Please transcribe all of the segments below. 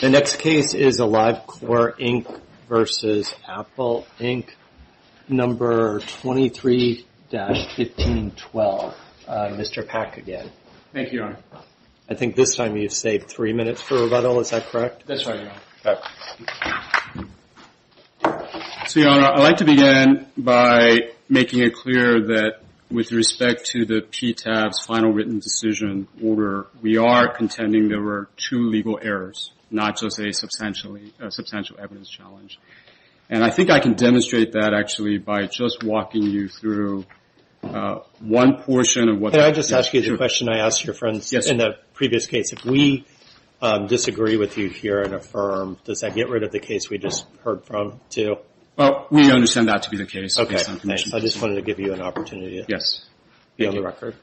No. 23-1512, Mr. Pack again. Thank you, Your Honor. I think this time you've saved three minutes for rebuttal. Is that correct? That's right, Your Honor. So, Your Honor, I'd like to begin by making it clear that with respect to the PTAB's final written decision order, we are contending there were two legal errors, not just a substantial evidence challenge. And I think I can demonstrate that, actually, by just walking you through one portion of what that is. Can I just ask you the question I asked your friends in the previous case? If we disagree with you here and affirm, does that get rid of the case we just heard from, too? Well, we understand that to be the case. Okay, thanks. I just wanted to give you an opportunity to be on the record.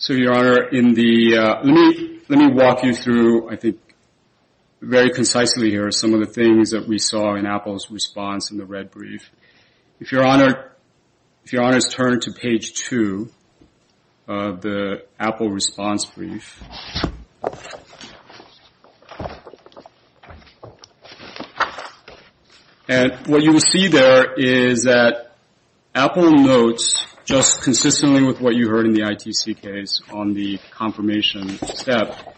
So, Your Honor, let me walk you through, I think, very concisely here, some of the things that we saw in Apple's response in the red brief. If Your Honor is turned to page two of the Apple response brief, and what you will see there is that Apple notes, just consistently with what you heard in the ITC case, on the confirmation step,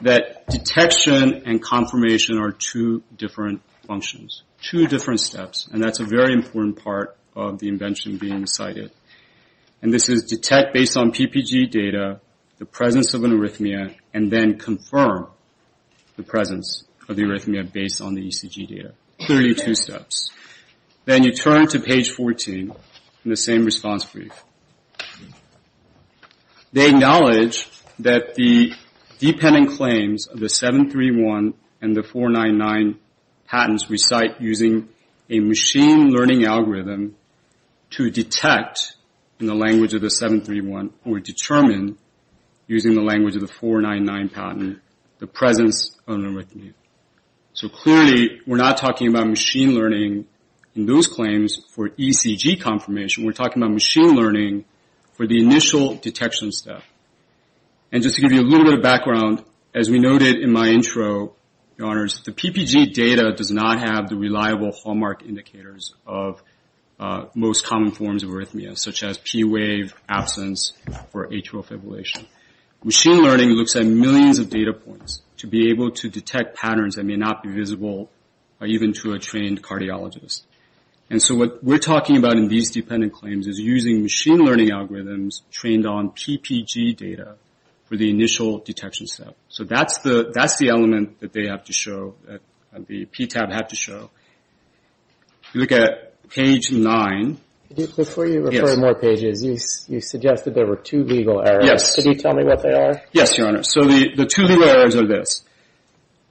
that detection and confirmation are two different functions, two different steps. And that's a very important part of the invention being cited. And this is detect based on PPG data, the presence of an arrhythmia, and then confirm the presence of the arrhythmia based on the ECG data. Clearly two steps. Then you turn to page 14 in the same response brief. They acknowledge that the dependent claims of the 731 and the 499 patents recite using a machine learning algorithm to detect in the language of the 731 or determine using the language of the 499 patent the presence of an arrhythmia. So clearly we're not talking about machine learning in those claims for ECG confirmation. We're talking about machine learning for the initial detection step. And just to give you a little bit of background, as we noted in my intro, Your Honors, the PPG data does not have the reliable hallmark indicators of most common forms of arrhythmia, such as P wave, absence, or atrial fibrillation. Machine learning looks at millions of data points to be able to detect patterns that may not be visible, even to a trained cardiologist. And so what we're talking about in these dependent claims is using machine learning algorithms trained on PPG data for the initial detection step. So that's the element that they have to show, that the PTAB had to show. If you look at page 9. Before you refer more pages, you suggested there were two legal errors. Yes. Can you tell me what they are? Yes, Your Honor. So the two legal errors are this.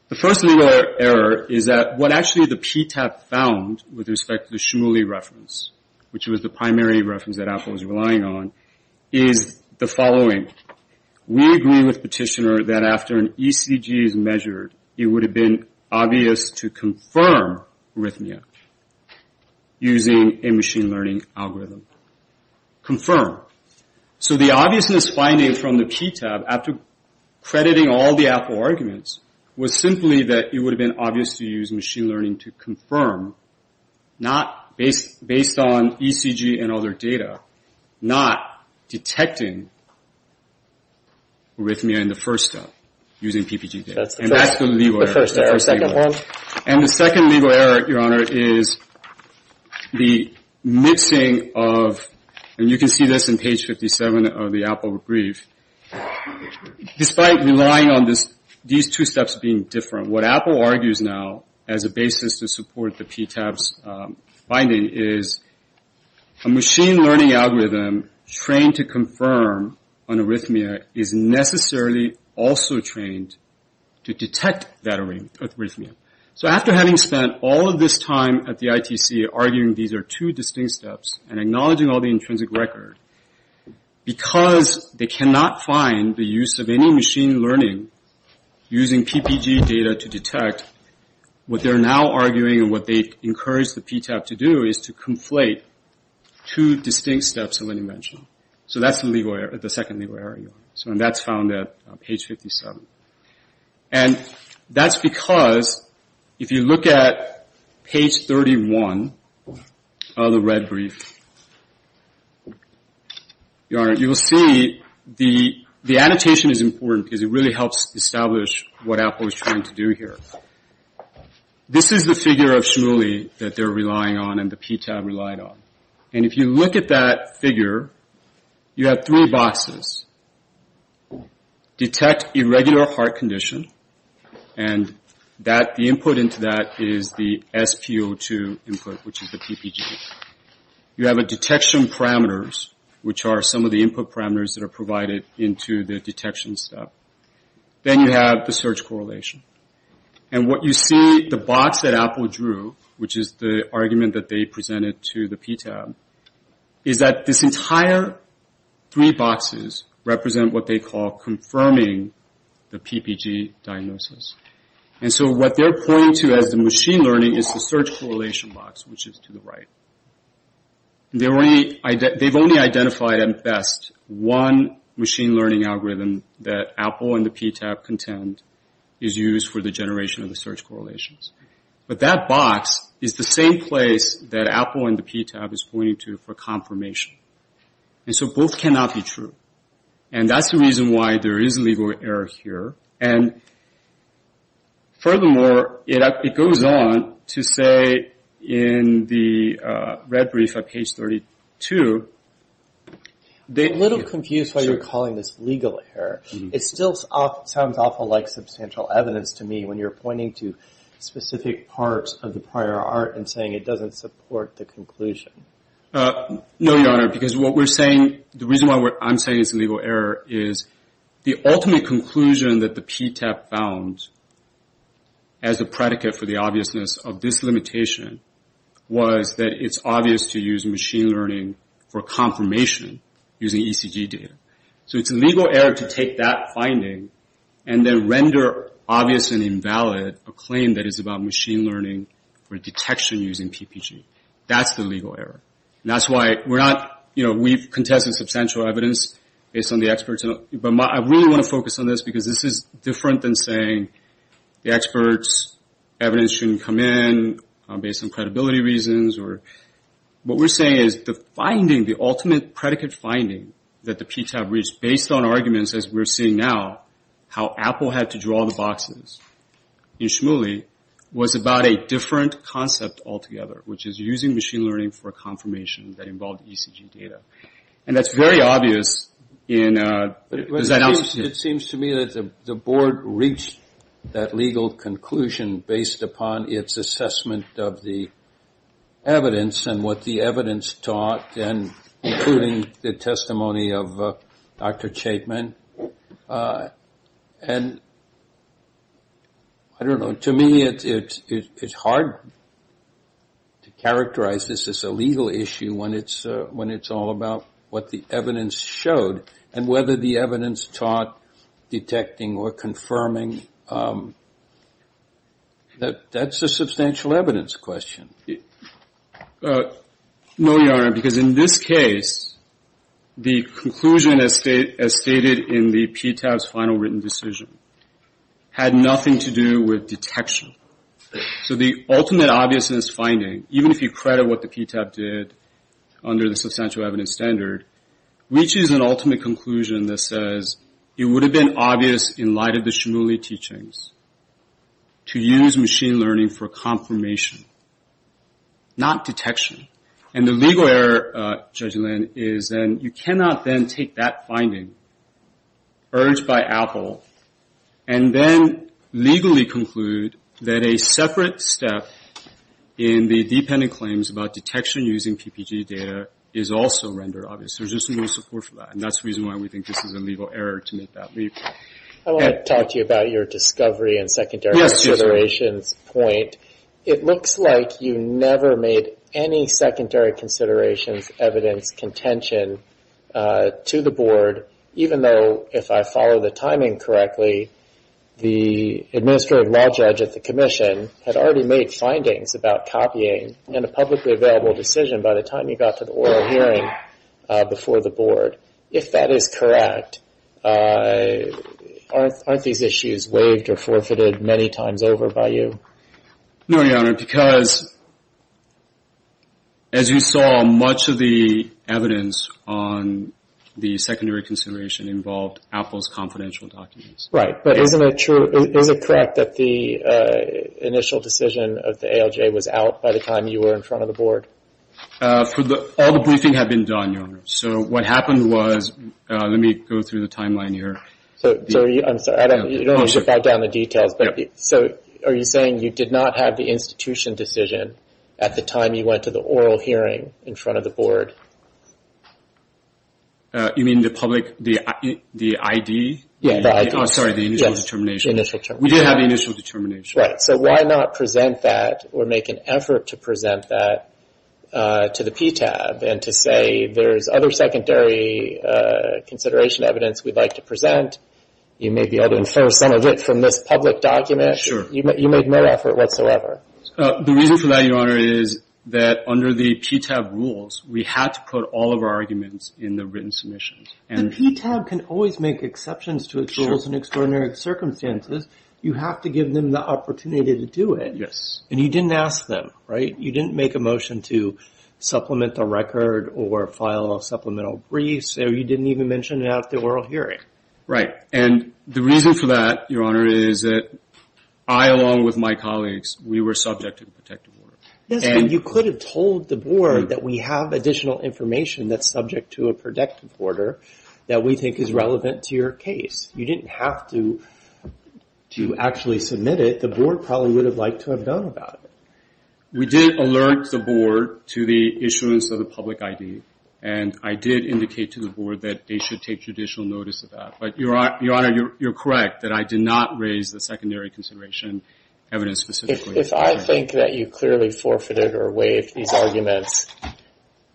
The first legal error is that what actually the PTAB found with respect to the Shmuley reference, which was the primary reference that Apple was relying on, is the following. We agree with Petitioner that after an ECG is measured, it would have been obvious to confirm arrhythmia using a machine learning algorithm. Confirm. So the obviousness finding from the PTAB, after crediting all the Apple arguments, was simply that it would have been obvious to use machine learning to confirm, based on ECG and other data, not detecting arrhythmia in the first step using PPG data. And that's the legal error. And the second legal error, Your Honor, is the mixing of, and you can see this in page 57 of the Apple brief. Despite relying on these two steps being different, what Apple argues now, as a basis to support the PTAB's finding, is a machine learning algorithm trained to confirm an arrhythmia is necessarily also trained to detect that arrhythmia. So after having spent all of this time at the ITC arguing these are two distinct steps and acknowledging all the intrinsic record, because they cannot find the use of any machine learning using PPG data to detect, what they're now arguing and what they encourage the PTAB to do is to conflate two distinct steps of an invention. So that's the second legal error, Your Honor. And that's found at page 57. And that's because if you look at page 31 of the red brief, Your Honor, you will see the annotation is important because it really helps establish what Apple is trying to do here. This is the figure of SHMULI that they're relying on and the PTAB relied on. And if you look at that figure, you have three boxes. Detect irregular heart condition. And the input into that is the SPO2 input, which is the PPG. You have detection parameters, which are some of the input parameters that are provided into the detection step. Then you have the search correlation. And what you see, the box that Apple drew, which is the argument that they presented to the PTAB, is that this entire three boxes represent what they call confirming the PPG diagnosis. And so what they're pointing to as the machine learning is the search correlation box, which is to the right. They've only identified at best one machine learning algorithm that Apple and the PTAB contend is used for the generation of the search correlations. But that box is the same place that Apple and the PTAB is pointing to for confirmation. And so both cannot be true. And that's the reason why there is a legal error here. And furthermore, it goes on to say in the red brief at page 32. A little confused why you're calling this legal error. It still sounds awful like substantial evidence to me when you're pointing to specific parts of the prior art and saying it doesn't support the conclusion. No, Your Honor, because what we're saying, the reason why I'm saying it's a legal error is the ultimate conclusion that the PTAB found, as a predicate for the obviousness of this limitation, was that it's obvious to use machine learning for confirmation using ECG data. So it's a legal error to take that finding and then render obvious and invalid a claim that is about machine learning for detection using PPG. That's the legal error. And that's why we're not, you know, we've contested substantial evidence based on the experts. But I really want to focus on this because this is different than saying the experts' evidence shouldn't come in based on credibility reasons. What we're saying is the finding, the ultimate predicate finding that the PTAB reached based on arguments, as we're seeing now, how Apple had to draw the boxes in Shmuley was about a different concept altogether, which is using machine learning for confirmation that involved ECG data. And that's very obvious. It seems to me that the board reached that legal conclusion based upon its assessment of the evidence and what the evidence taught, including the testimony of Dr. Chapman. And I don't know, to me, it's hard to characterize this as a legal issue when it's all about what the evidence shows. And whether the evidence taught detecting or confirming, that's a substantial evidence question. No, Your Honor, because in this case, the conclusion, as stated in the PTAB's final written decision, had nothing to do with detection. So the ultimate obviousness finding, even if you credit what the PTAB did under the substantial evidence standard, reaches an ultimate conclusion that says it would have been obvious in light of the Shmuley teachings to use machine learning for confirmation, not detection. And the legal error, Judge Lynn, is that you cannot then take that finding, urged by Apple, and then legally conclude that a separate step in the dependent claims about detection using PPG data is also rendered obvious. There's just no support for that. And that's the reason why we think this is a legal error to make that leap. I want to talk to you about your discovery and secondary considerations point. It looks like you never made any secondary considerations evidence contention to the board, even though, if I follow the timing correctly, the administrative law judge at the commission had already made findings about copying in a publicly available decision by the time you got to the oral hearing before the board. If that is correct, aren't these issues waived or forfeited many times over by you? No, Your Honor, because, as you saw, much of the evidence on the secondary consideration involved Apple's confidential documents. Right, but is it correct that the initial decision of the ALJ was out by the time you were in front of the board? All the briefing had been done, Your Honor. So what happened was, let me go through the timeline here. I'm sorry. You don't have to write down the details. Are you saying you did not have the institution decision at the time you went to the oral hearing in front of the board? You mean the public, the ID? Yes, the ID. I'm sorry, the initial determination. Yes, the initial determination. We did have the initial determination. Right, so why not present that or make an effort to present that to the PTAB and to say, there's other secondary consideration evidence we'd like to present. You may be able to infer some of it from this public document. You made no effort whatsoever. The reason for that, Your Honor, is that under the PTAB rules, we had to put all of our arguments in the written submissions. The PTAB can always make exceptions to its rules in extraordinary circumstances. You have to give them the opportunity to do it. Yes. And you didn't ask them, right? You didn't make a motion to supplement the record or file a supplemental brief, or you didn't even mention it at the oral hearing. Right. And the reason for that, Your Honor, is that I, along with my colleagues, we were subject to a protective order. Yes, and you could have told the board that we have additional information that's subject to a protective order that we think is relevant to your case. You didn't have to actually submit it. The board probably would have liked to have done about it. We did alert the board to the issuance of the public ID, and I did indicate to the board that they should take judicial notice of that. But, Your Honor, you're correct that I did not raise the secondary consideration evidence specifically. If I think that you clearly forfeited or waived these arguments,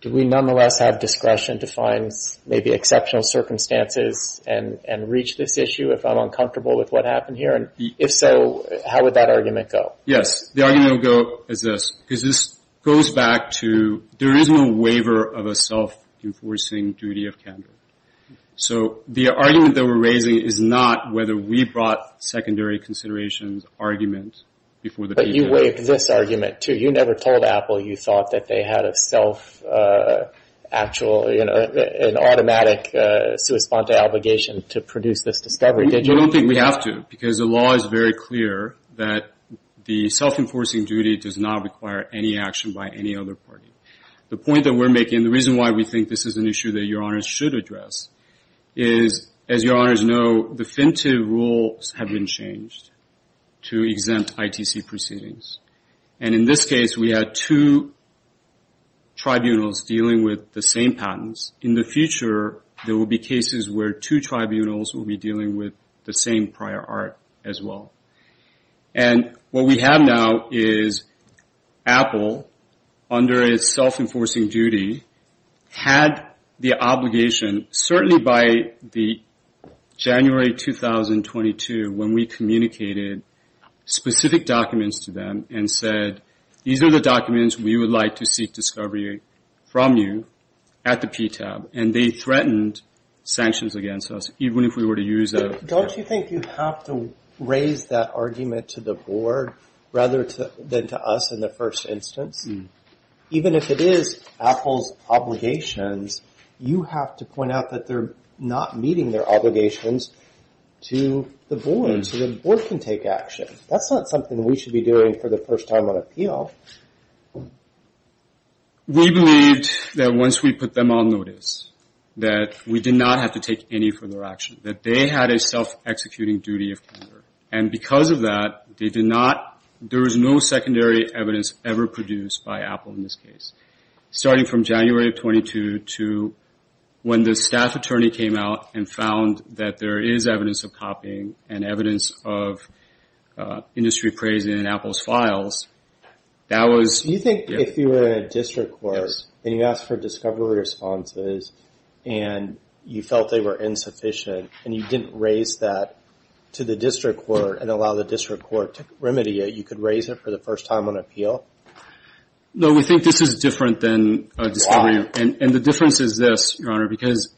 do we nonetheless have discretion to find maybe exceptional circumstances and reach this issue if I'm uncomfortable with what happened here? And if so, how would that argument go? Yes, the argument would go as this. Because this goes back to there is no waiver of a self-enforcing duty of candor. So the argument that we're raising is not whether we brought secondary considerations argument before the patient. But you waived this argument, too. You never told Apple you thought that they had a self-actual, an automatic sui sponte obligation to produce this discovery, did you? I don't think we have to, because the law is very clear that the self-enforcing duty does not require any action by any other party. The point that we're making, the reason why we think this is an issue that Your Honors should address, is, as Your Honors know, definitive rules have been changed to exempt ITC proceedings. And in this case, we had two tribunals dealing with the same patents. In the future, there will be cases where two tribunals will be dealing with the same prior art as well. And what we have now is Apple, under its self-enforcing duty, had the obligation, certainly by the January 2022, when we communicated specific documents to them and said, these are the documents we would like to seek discovery from you at the PTAB. And they threatened sanctions against us, even if we were to use a... Don't you think you have to raise that argument to the board rather than to us in the first instance? Even if it is Apple's obligations, you have to point out that they're not meeting their obligations to the board, so the board can take action. That's not something we should be doing for the first time on appeal. We believed that once we put them on notice, that we did not have to take any further action, that they had a self-executing duty of counter. And because of that, they did not... There was no secondary evidence ever produced by Apple in this case, starting from January of 22 to when the staff attorney came out and found that there is evidence of copying and evidence of industry praise in Apple's files. Do you think if you were in a district court and you asked for discovery responses and you felt they were insufficient and you didn't raise that to the district court and allow the district court to remedy it, you could raise it for the first time on appeal? No, we think this is different than discovery. Why? And the difference is this, Your Honor, because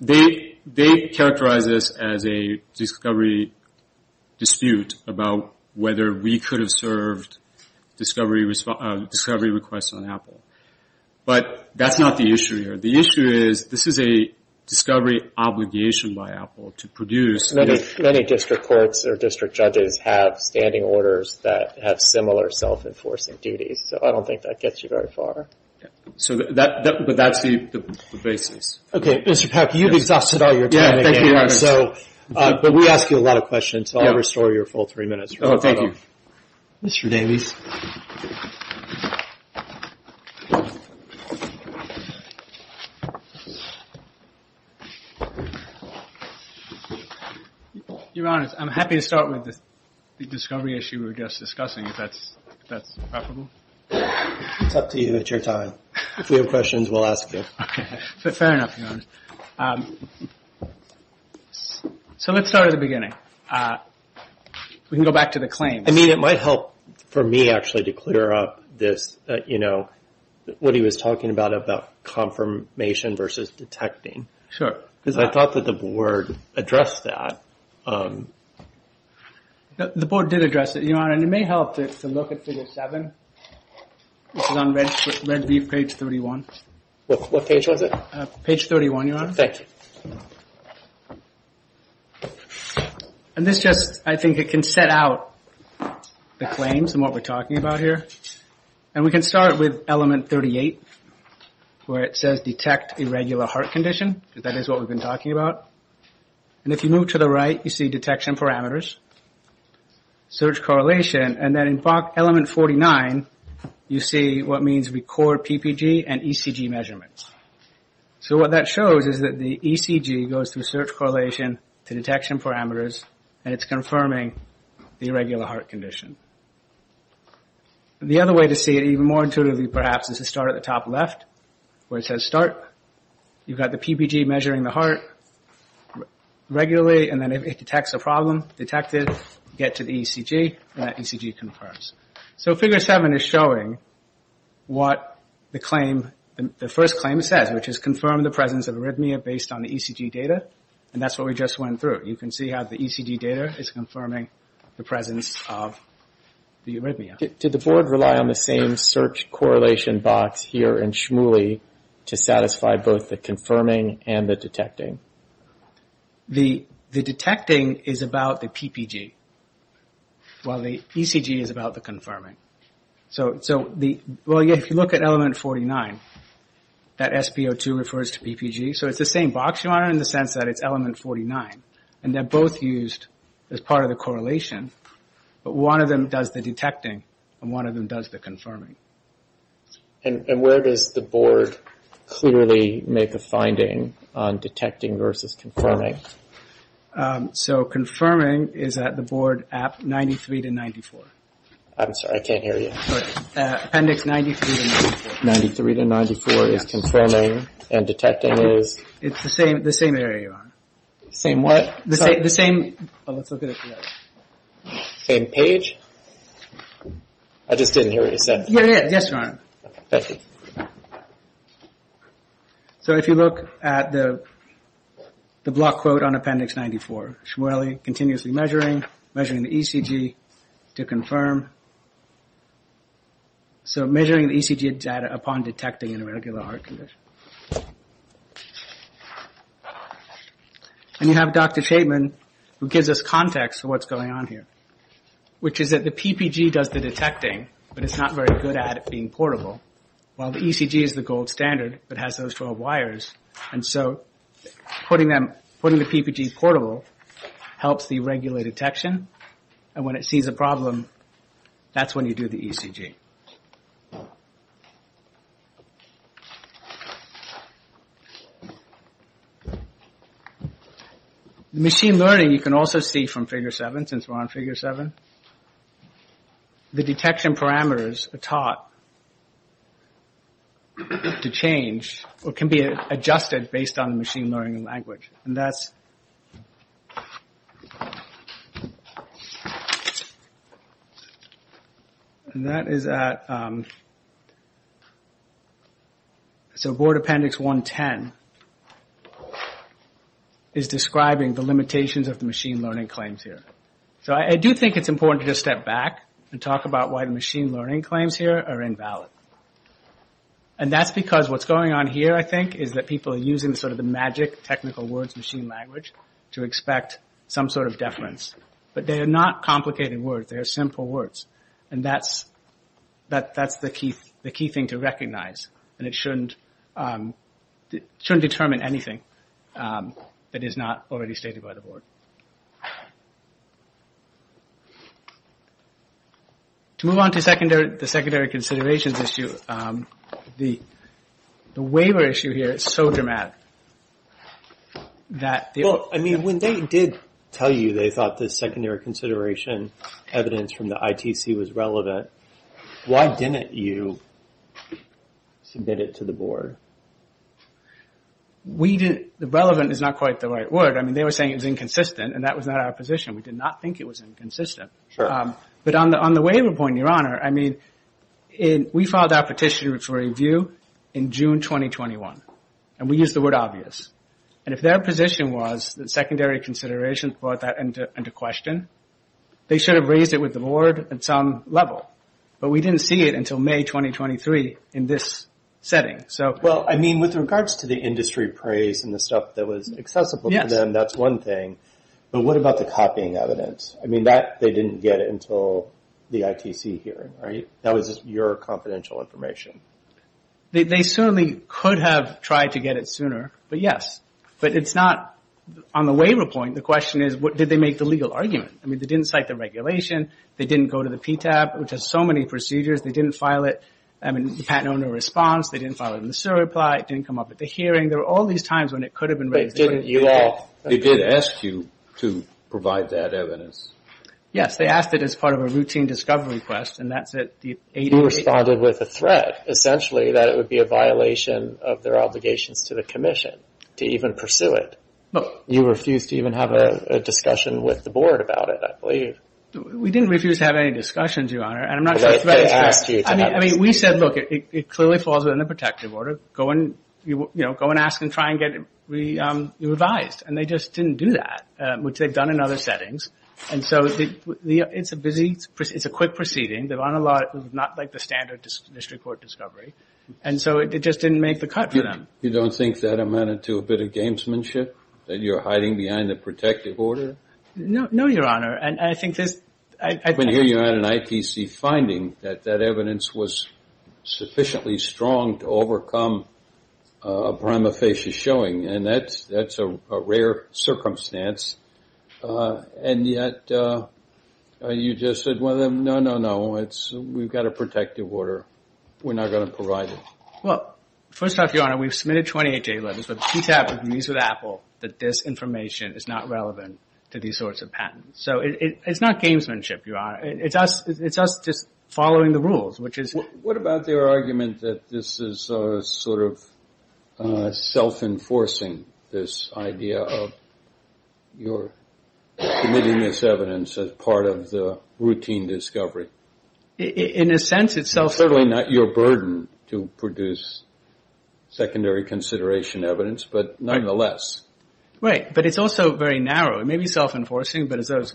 they characterize this as a discovery dispute about whether we could have served discovery requests on Apple. But that's not the issue here. The issue is this is a discovery obligation by Apple to produce... Many district courts or district judges have standing orders that have similar self-enforcing duties, so I don't think that gets you very far. But that's the basis. Okay, Mr. Packer, you've exhausted all your time. Yeah, thank you, Your Honor. But we ask you a lot of questions, so I'll restore your full three minutes. Oh, thank you. Mr. Davies. Your Honor, I'm happy to start with the discovery issue we were just discussing, if that's preferable. It's up to you. It's your time. If you have questions, we'll ask you. Okay, fair enough, Your Honor. So let's start at the beginning. We can go back to the claims. I mean, it might help for me, actually, to clear up this, you know, what he was talking about, about confirmation versus detecting. Sure. Because I thought that the board addressed that. The board did address it, Your Honor, and it may help to look at Figure 7. This is on Red Beef, Page 31. What page was it? Page 31, Your Honor. Thank you. And this just, I think it can set out the claims and what we're talking about here. And we can start with Element 38, where it says, Detect Irregular Heart Condition, because that is what we've been talking about. And if you move to the right, you see Detection Parameters, Search Correlation, and then in Element 49, you see what means Record PPG and ECG Measurements. So what that shows is that the ECG goes through Search Correlation to Detection Parameters, and it's confirming the irregular heart condition. The other way to see it even more intuitively, perhaps, is to start at the top left, where it says Start. You've got the PPG measuring the heart. Regularly, and then if it detects a problem, detect it, get to the ECG, and that ECG confirms. So Figure 7 is showing what the claim, the first claim says, which is confirm the presence of arrhythmia based on the ECG data. And that's what we just went through. You can see how the ECG data is confirming the presence of the arrhythmia. Did the Board rely on the same Search Correlation box here in SHMULI to satisfy both the confirming and the detecting? The detecting is about the PPG, while the ECG is about the confirming. So if you look at Element 49, that SP02 refers to PPG, so it's the same box you're on in the sense that it's Element 49. And they're both used as part of the correlation, but one of them does the detecting, and one of them does the confirming. And where does the Board clearly make a finding on detecting versus confirming? So confirming is at the Board App 93-94. I'm sorry, I can't hear you. Appendix 93-94. 93-94 is confirming, and detecting is? It's the same area you're on. Same what? The same... Same page? I just didn't hear what you said. Yes, Your Honor. So if you look at the block quote on Appendix 94, SHMULI, continuously measuring, measuring the ECG to confirm. So measuring the ECG data upon detecting an irregular heart condition. And you have Dr. Chapman, who gives us context for what's going on here, which is that the PPG does the detecting, but it's not very good at being portable. While the ECG is the gold standard, it has those 12 wires, and so putting the PPG portable helps the irregular detection, and when it sees a problem, that's when you do the ECG. The machine learning you can also see from Figure 7, since we're on Figure 7. The detection parameters are taught to change, or can be adjusted based on the machine learning language. And that's... And that is a... That... So Board Appendix 110 is describing the limitations of the machine learning claims here. So I do think it's important to just step back and talk about why the machine learning claims here are invalid. And that's because what's going on here, I think, is that people are using sort of the magic technical words, machine language, to expect some sort of deference. But they are not complicated words, they are simple words. And that's the key thing to recognize. And it shouldn't determine anything that is not already stated by the board. To move on to the secondary considerations issue, the waiver issue here is so dramatic that... Well, I mean, when they did tell you they thought the secondary consideration evidence from the ITC was relevant, why didn't you submit it to the board? We didn't... Relevant is not quite the right word. I mean, they were saying it was inconsistent, and that was not our position. We did not think it was inconsistent. But on the waiver point, Your Honor, I mean, we filed our petition for review in June 2021. And we used the word obvious. And if their position was that secondary consideration brought that into question, they should have raised it with the board at some level. But we didn't see it until May 2023 in this setting. Well, I mean, with regards to the industry praise and the stuff that was accessible to them, that's one thing. But what about the copying evidence? I mean, they didn't get it until the ITC hearing, right? That was just your confidential information. They certainly could have tried to get it sooner. But yes. But it's not... On the waiver point, the question is, did they make the legal argument? I mean, they didn't cite the regulation. They didn't go to the PTAB, which has so many procedures. They didn't file it in the patent owner response. They didn't file it in the SIRA reply. It didn't come up at the hearing. There were all these times when it could have been raised. But didn't you all... They did ask you to provide that evidence. Yes, they asked it as part of a routine discovery request, and that's at the... You responded with a threat, essentially, that it would be a violation of their obligations to the commission to even pursue it. You refused to even have a discussion with the board about it, I believe. We didn't refuse to have any discussions, Your Honor. And I'm not... They asked you to... I mean, we said, look, it clearly falls within the protective order. Go and ask and try and get it revised. And they just didn't do that, which they've done in other settings. And so, it's a busy... It's a quick proceeding. They're on a lot... It's not like the standard district court discovery. And so, it just didn't make the cut for them. You don't think that amounted to a bit of gamesmanship, that you're hiding behind the protective order? No, Your Honor. And I think this... I mean, here you had an ITC finding that that evidence was sufficiently strong to overcome a prima facie showing. And that's a rare circumstance. And yet, you just said, well, no, no, no. It's... We've got a protective order. We're not going to provide it. Well, first off, Your Honor, we've submitted 28 data letters, but the CTAP agrees with Apple that this information is not relevant to these sorts of patents. So, it's not gamesmanship, Your Honor. It's us just following the rules, which is... What about their argument that this is sort of self-enforcing, this idea of your submitting this evidence as part of the routine discovery? In a sense, it's self-enforcing. Certainly not your burden to produce secondary consideration evidence, but nonetheless. Right. But it's also very narrow. It may be self-enforcing, but as those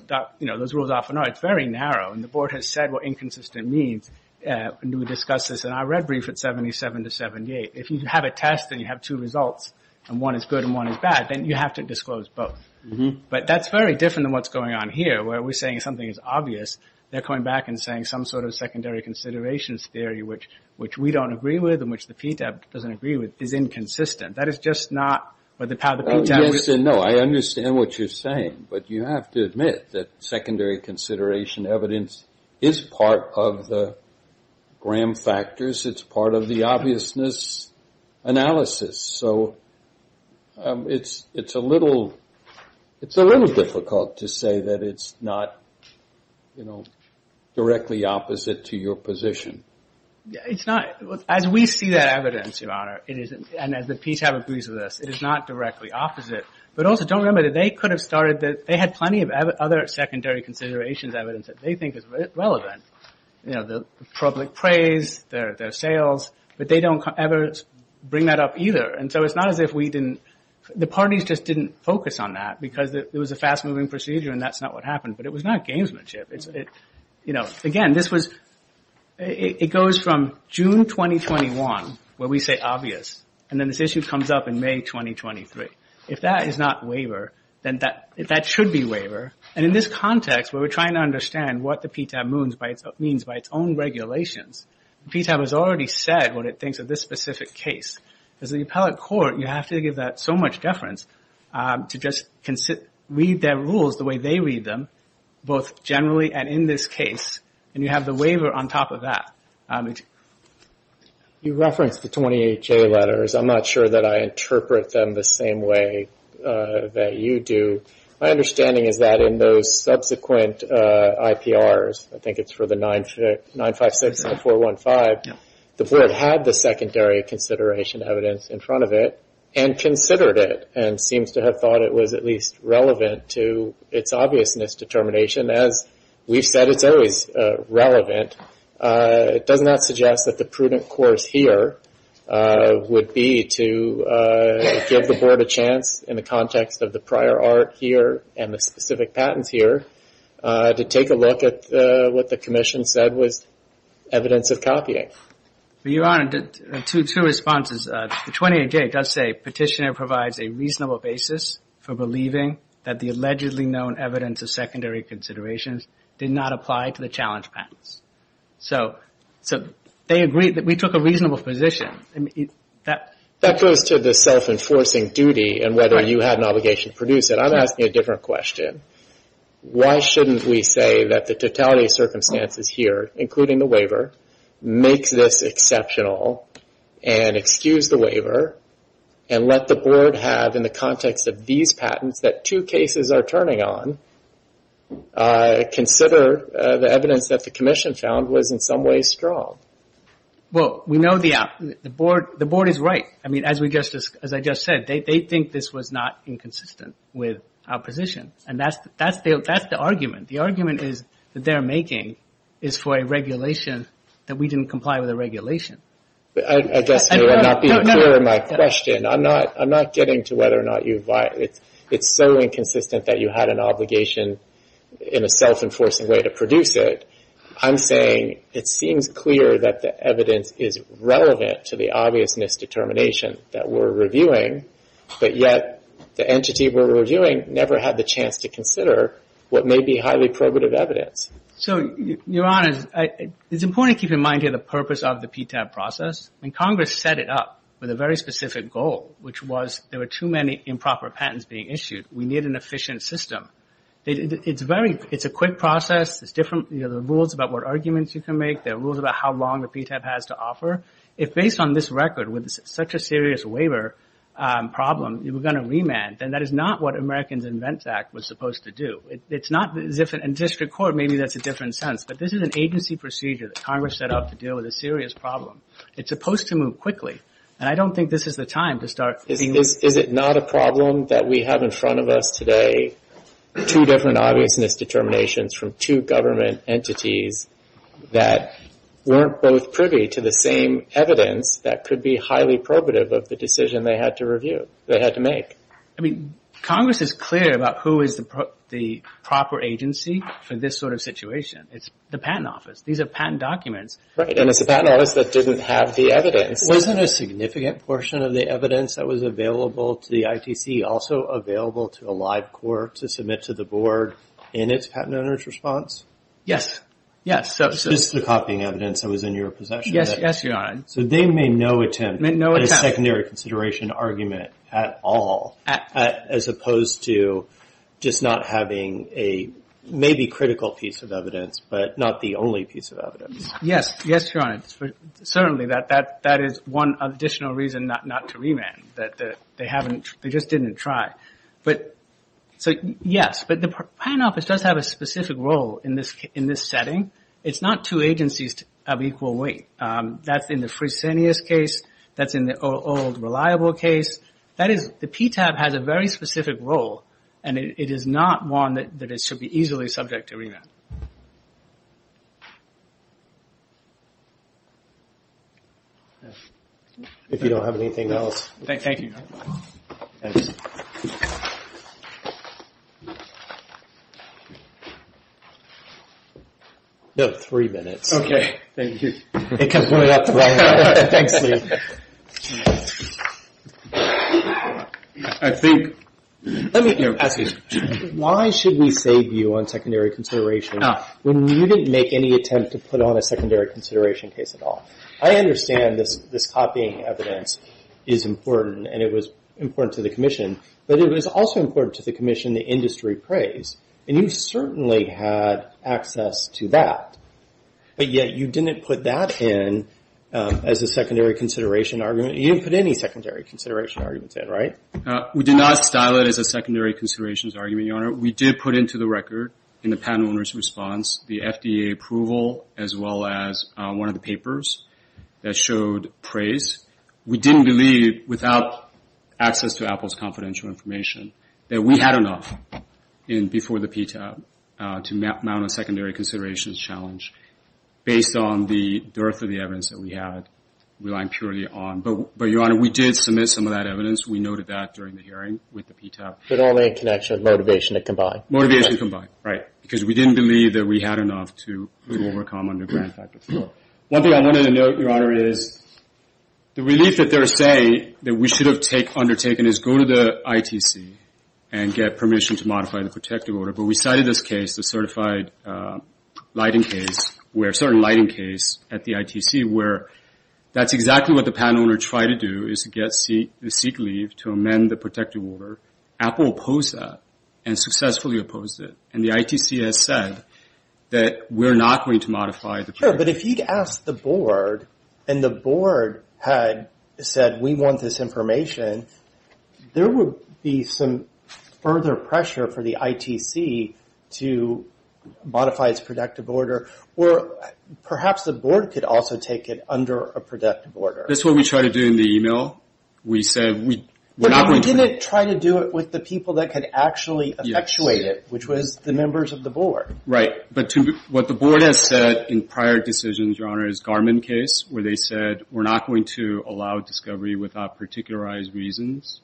rules often are, it's very narrow. And the Board has said what inconsistent means. And we discussed this. And I read brief at 77 to 78. If you have a test and you have two results, and one is good and one is bad, then you have to disclose both. But that's very different than what's going on here, where we're saying something is obvious. They're coming back and saying some sort of secondary considerations theory, which we don't agree with and which the PTAP doesn't agree with, is inconsistent. That is just not how the PTAP... Yes and no. I understand what you're saying, but you have to admit that secondary consideration evidence is part of the gram factors. It's part of the obviousness analysis. So it's a little difficult to say that it's not directly opposite to your position. It's not. As we see that evidence, Your Honor, and as the PTAP agrees with us, it is not directly opposite. But also don't remember that they could have started... They had plenty of other secondary considerations evidence that they think is relevant. The public praise, their sales, but they don't ever bring that up either. And so it's not as if we didn't... The parties just didn't focus on that because it was a fast-moving procedure and that's not what happened. But it was not gamesmanship. Again, this was... It goes from June 2021, where we say obvious, and then this issue comes up in May 2023. If that is not waiver, then that should be waiver. And in this context where we're trying to understand what the PTAP means by its own regulations, PTAP has already said what it thinks of this specific case. As the appellate court, you have to give that so much deference to just read their rules the way they read them, both generally and in this case. And you have the waiver on top of that. You referenced the 28J letters. I'm not sure that I interpret them the same way that you do. My understanding is that in those subsequent IPRs, I think it's for the 956 to 415, the board had the secondary consideration evidence in front of it and considered it and seems to have thought it was at least relevant to its obviousness determination. As we've said, it's always relevant. It does not suggest that the prudent course here would be to give the board a chance in the context of the prior art here and the specific patents here to take a look at what the commission said was evidence of copying. Your Honor, two responses. The 28J does say petitioner provides a reasonable basis for believing that the allegedly known evidence of secondary considerations did not apply to the challenge patents. They agree that we took a reasonable position. That goes to the self-enforcing duty and whether you had an obligation to produce it. I'm asking a different question. Why shouldn't we say that the totality of circumstances here, including the waiver, makes this exceptional and excuse the waiver and let the board have, in the context of these patents that two cases are turning on, consider the evidence that the commission found was in some way strong? Well, we know the board is right. As I just said, they think this was not inconsistent with our position. That's the argument. The argument that they're making is for a regulation that we didn't comply with the regulation. I guess you're not being clear in my question. I'm not getting to whether or not it's so inconsistent that you had an obligation in a self-enforcing way to produce it. I'm saying it seems clear that the evidence is relevant to the obvious misdetermination that we're reviewing, but yet the entity we're reviewing never had the chance to consider what may be highly probative evidence. Your Honor, it's important to keep in mind here the purpose of the PTAB process. Congress set it up with a very specific goal, which was there were too many improper patents being issued. We need an efficient system. It's a quick process. There are rules about what arguments you can make. There are rules about how long the PTAB has to offer. If based on this record, with such a serious waiver problem, you were going to remand, then that is not what Americans in Vents Act was supposed to do. In district court, maybe that's a different sense, but this is an agency procedure that Congress set up to deal with a serious problem. It's supposed to move quickly, and I don't think this is the time to start being... Is it not a problem that we have in front of us today two different obviousness determinations from two government entities that weren't both privy to the same evidence that could be highly probative of the decision they had to review, they had to make? I mean, Congress is clear about who is the proper agency for this sort of situation. It's the Patent Office. These are patent documents. Right, and it's the Patent Office that didn't have the evidence. Wasn't a significant portion of the evidence that was available to the ITC also available to a live court to submit to the board in its patent owner's response? Yes. Just the copying evidence that was in your possession? Yes, Your Honor. So they made no attempt at a secondary consideration argument at all, as opposed to just not having a maybe critical piece of evidence, but not the only piece of evidence. Yes, Your Honor. Certainly, that is one additional reason not to remand, that they just didn't try. Yes, but the Patent Office does have a specific role in this setting. It's not two agencies of equal weight. That's in the Fresenius case. That's in the old reliable case. The PTAB has a very specific role, and it is not one that it should be easily subject to remand. If you don't have anything else. Thank you, Your Honor. Thanks. You have three minutes. Okay, thank you. It comes right up to me. Thanks, Lee. Why should we save you on secondary consideration when you didn't make any attempt to put on a secondary consideration case at all? I understand this copying evidence is important, and it was important to the Commission, but it was also important to the Commission the industry praise, and you certainly had access to that, but yet you didn't put that in as a secondary consideration case. You didn't put any secondary consideration arguments in, right? We did not style it as a secondary considerations argument, Your Honor. We did put into the record in the patent owner's response the FDA approval as well as one of the papers that showed praise. We didn't believe, without access to Apple's confidential information, that we had enough before the PTAB to mount a secondary considerations challenge based on the dearth of the evidence that we had relying purely on. But, Your Honor, we did submit some of that evidence. We noted that during the hearing with the PTAB. But only in connection with motivation combined. Motivation combined, right, because we didn't believe that we had enough to overcome underground factors. One thing I wanted to note, Your Honor, is the relief that they're saying that we should have undertaken is go to the ITC and get permission to modify the protective order, but we cited this case, the certified lighting case, where a certain lighting case at the ITC, where that's exactly what the patent owner tried to do is to get the seek-leave to amend the protective order. Apple opposed that and successfully opposed it. And the ITC has said that we're not going to modify the protective order. Sure, but if you'd asked the board, and the board had said we want this information, there would be some further pressure for the ITC to modify its protective order. Or perhaps the board could also take it under a protective order. That's what we tried to do in the email. We said we're not going to... But we didn't try to do it with the people that could actually effectuate it, which was the members of the board. Right. But what the board has said in prior decisions, Your Honor, is Garmin case, where they said we're not going to allow discovery without particularized reasons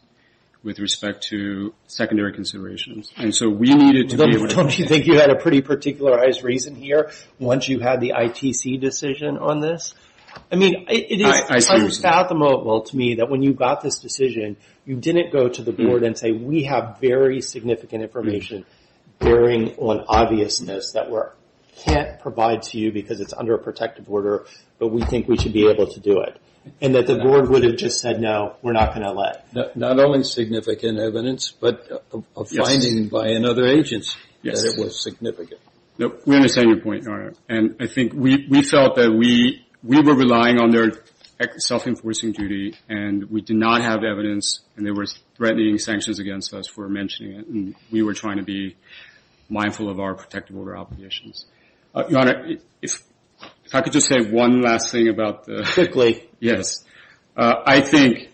with respect to secondary considerations. And so we needed to be able to... Don't you think you had a pretty particularized reason here once you had the ITC decision on this? I mean, it is unspathomable to me that when you got this decision, you didn't go to the board and say, we have very significant information bearing on obviousness that we can't provide to you because it's under a protective order, but we think we should be able to do it. And that the board would have just said, no, we're not going to let... Not only significant evidence, but a finding by another agent that it was significant. We understand your point, Your Honor. And I think we felt that we were relying on their self-enforcing duty and we did not have evidence and they were threatening sanctions against us for mentioning it. And we were trying to be mindful of our protective order obligations. Your Honor, if I could just say one last thing about the... Quickly. I think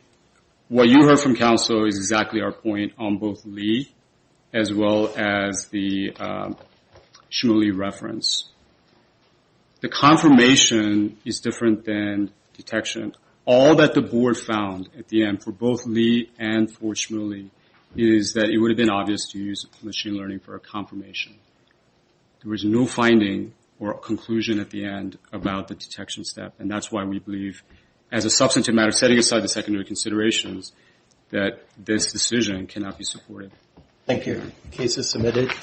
what you heard from counsel is exactly our point on both Lee as well as the Shmuley reference. The confirmation is different than detection. All that the board found at the end for both Lee and for Shmuley is that it would have been obvious to use machine learning for a confirmation. There was no finding or conclusion at the end about the detection step and that's why we believe, as a substantive matter, setting aside the secondary considerations, that this decision cannot be supported. Thank you. Case is submitted.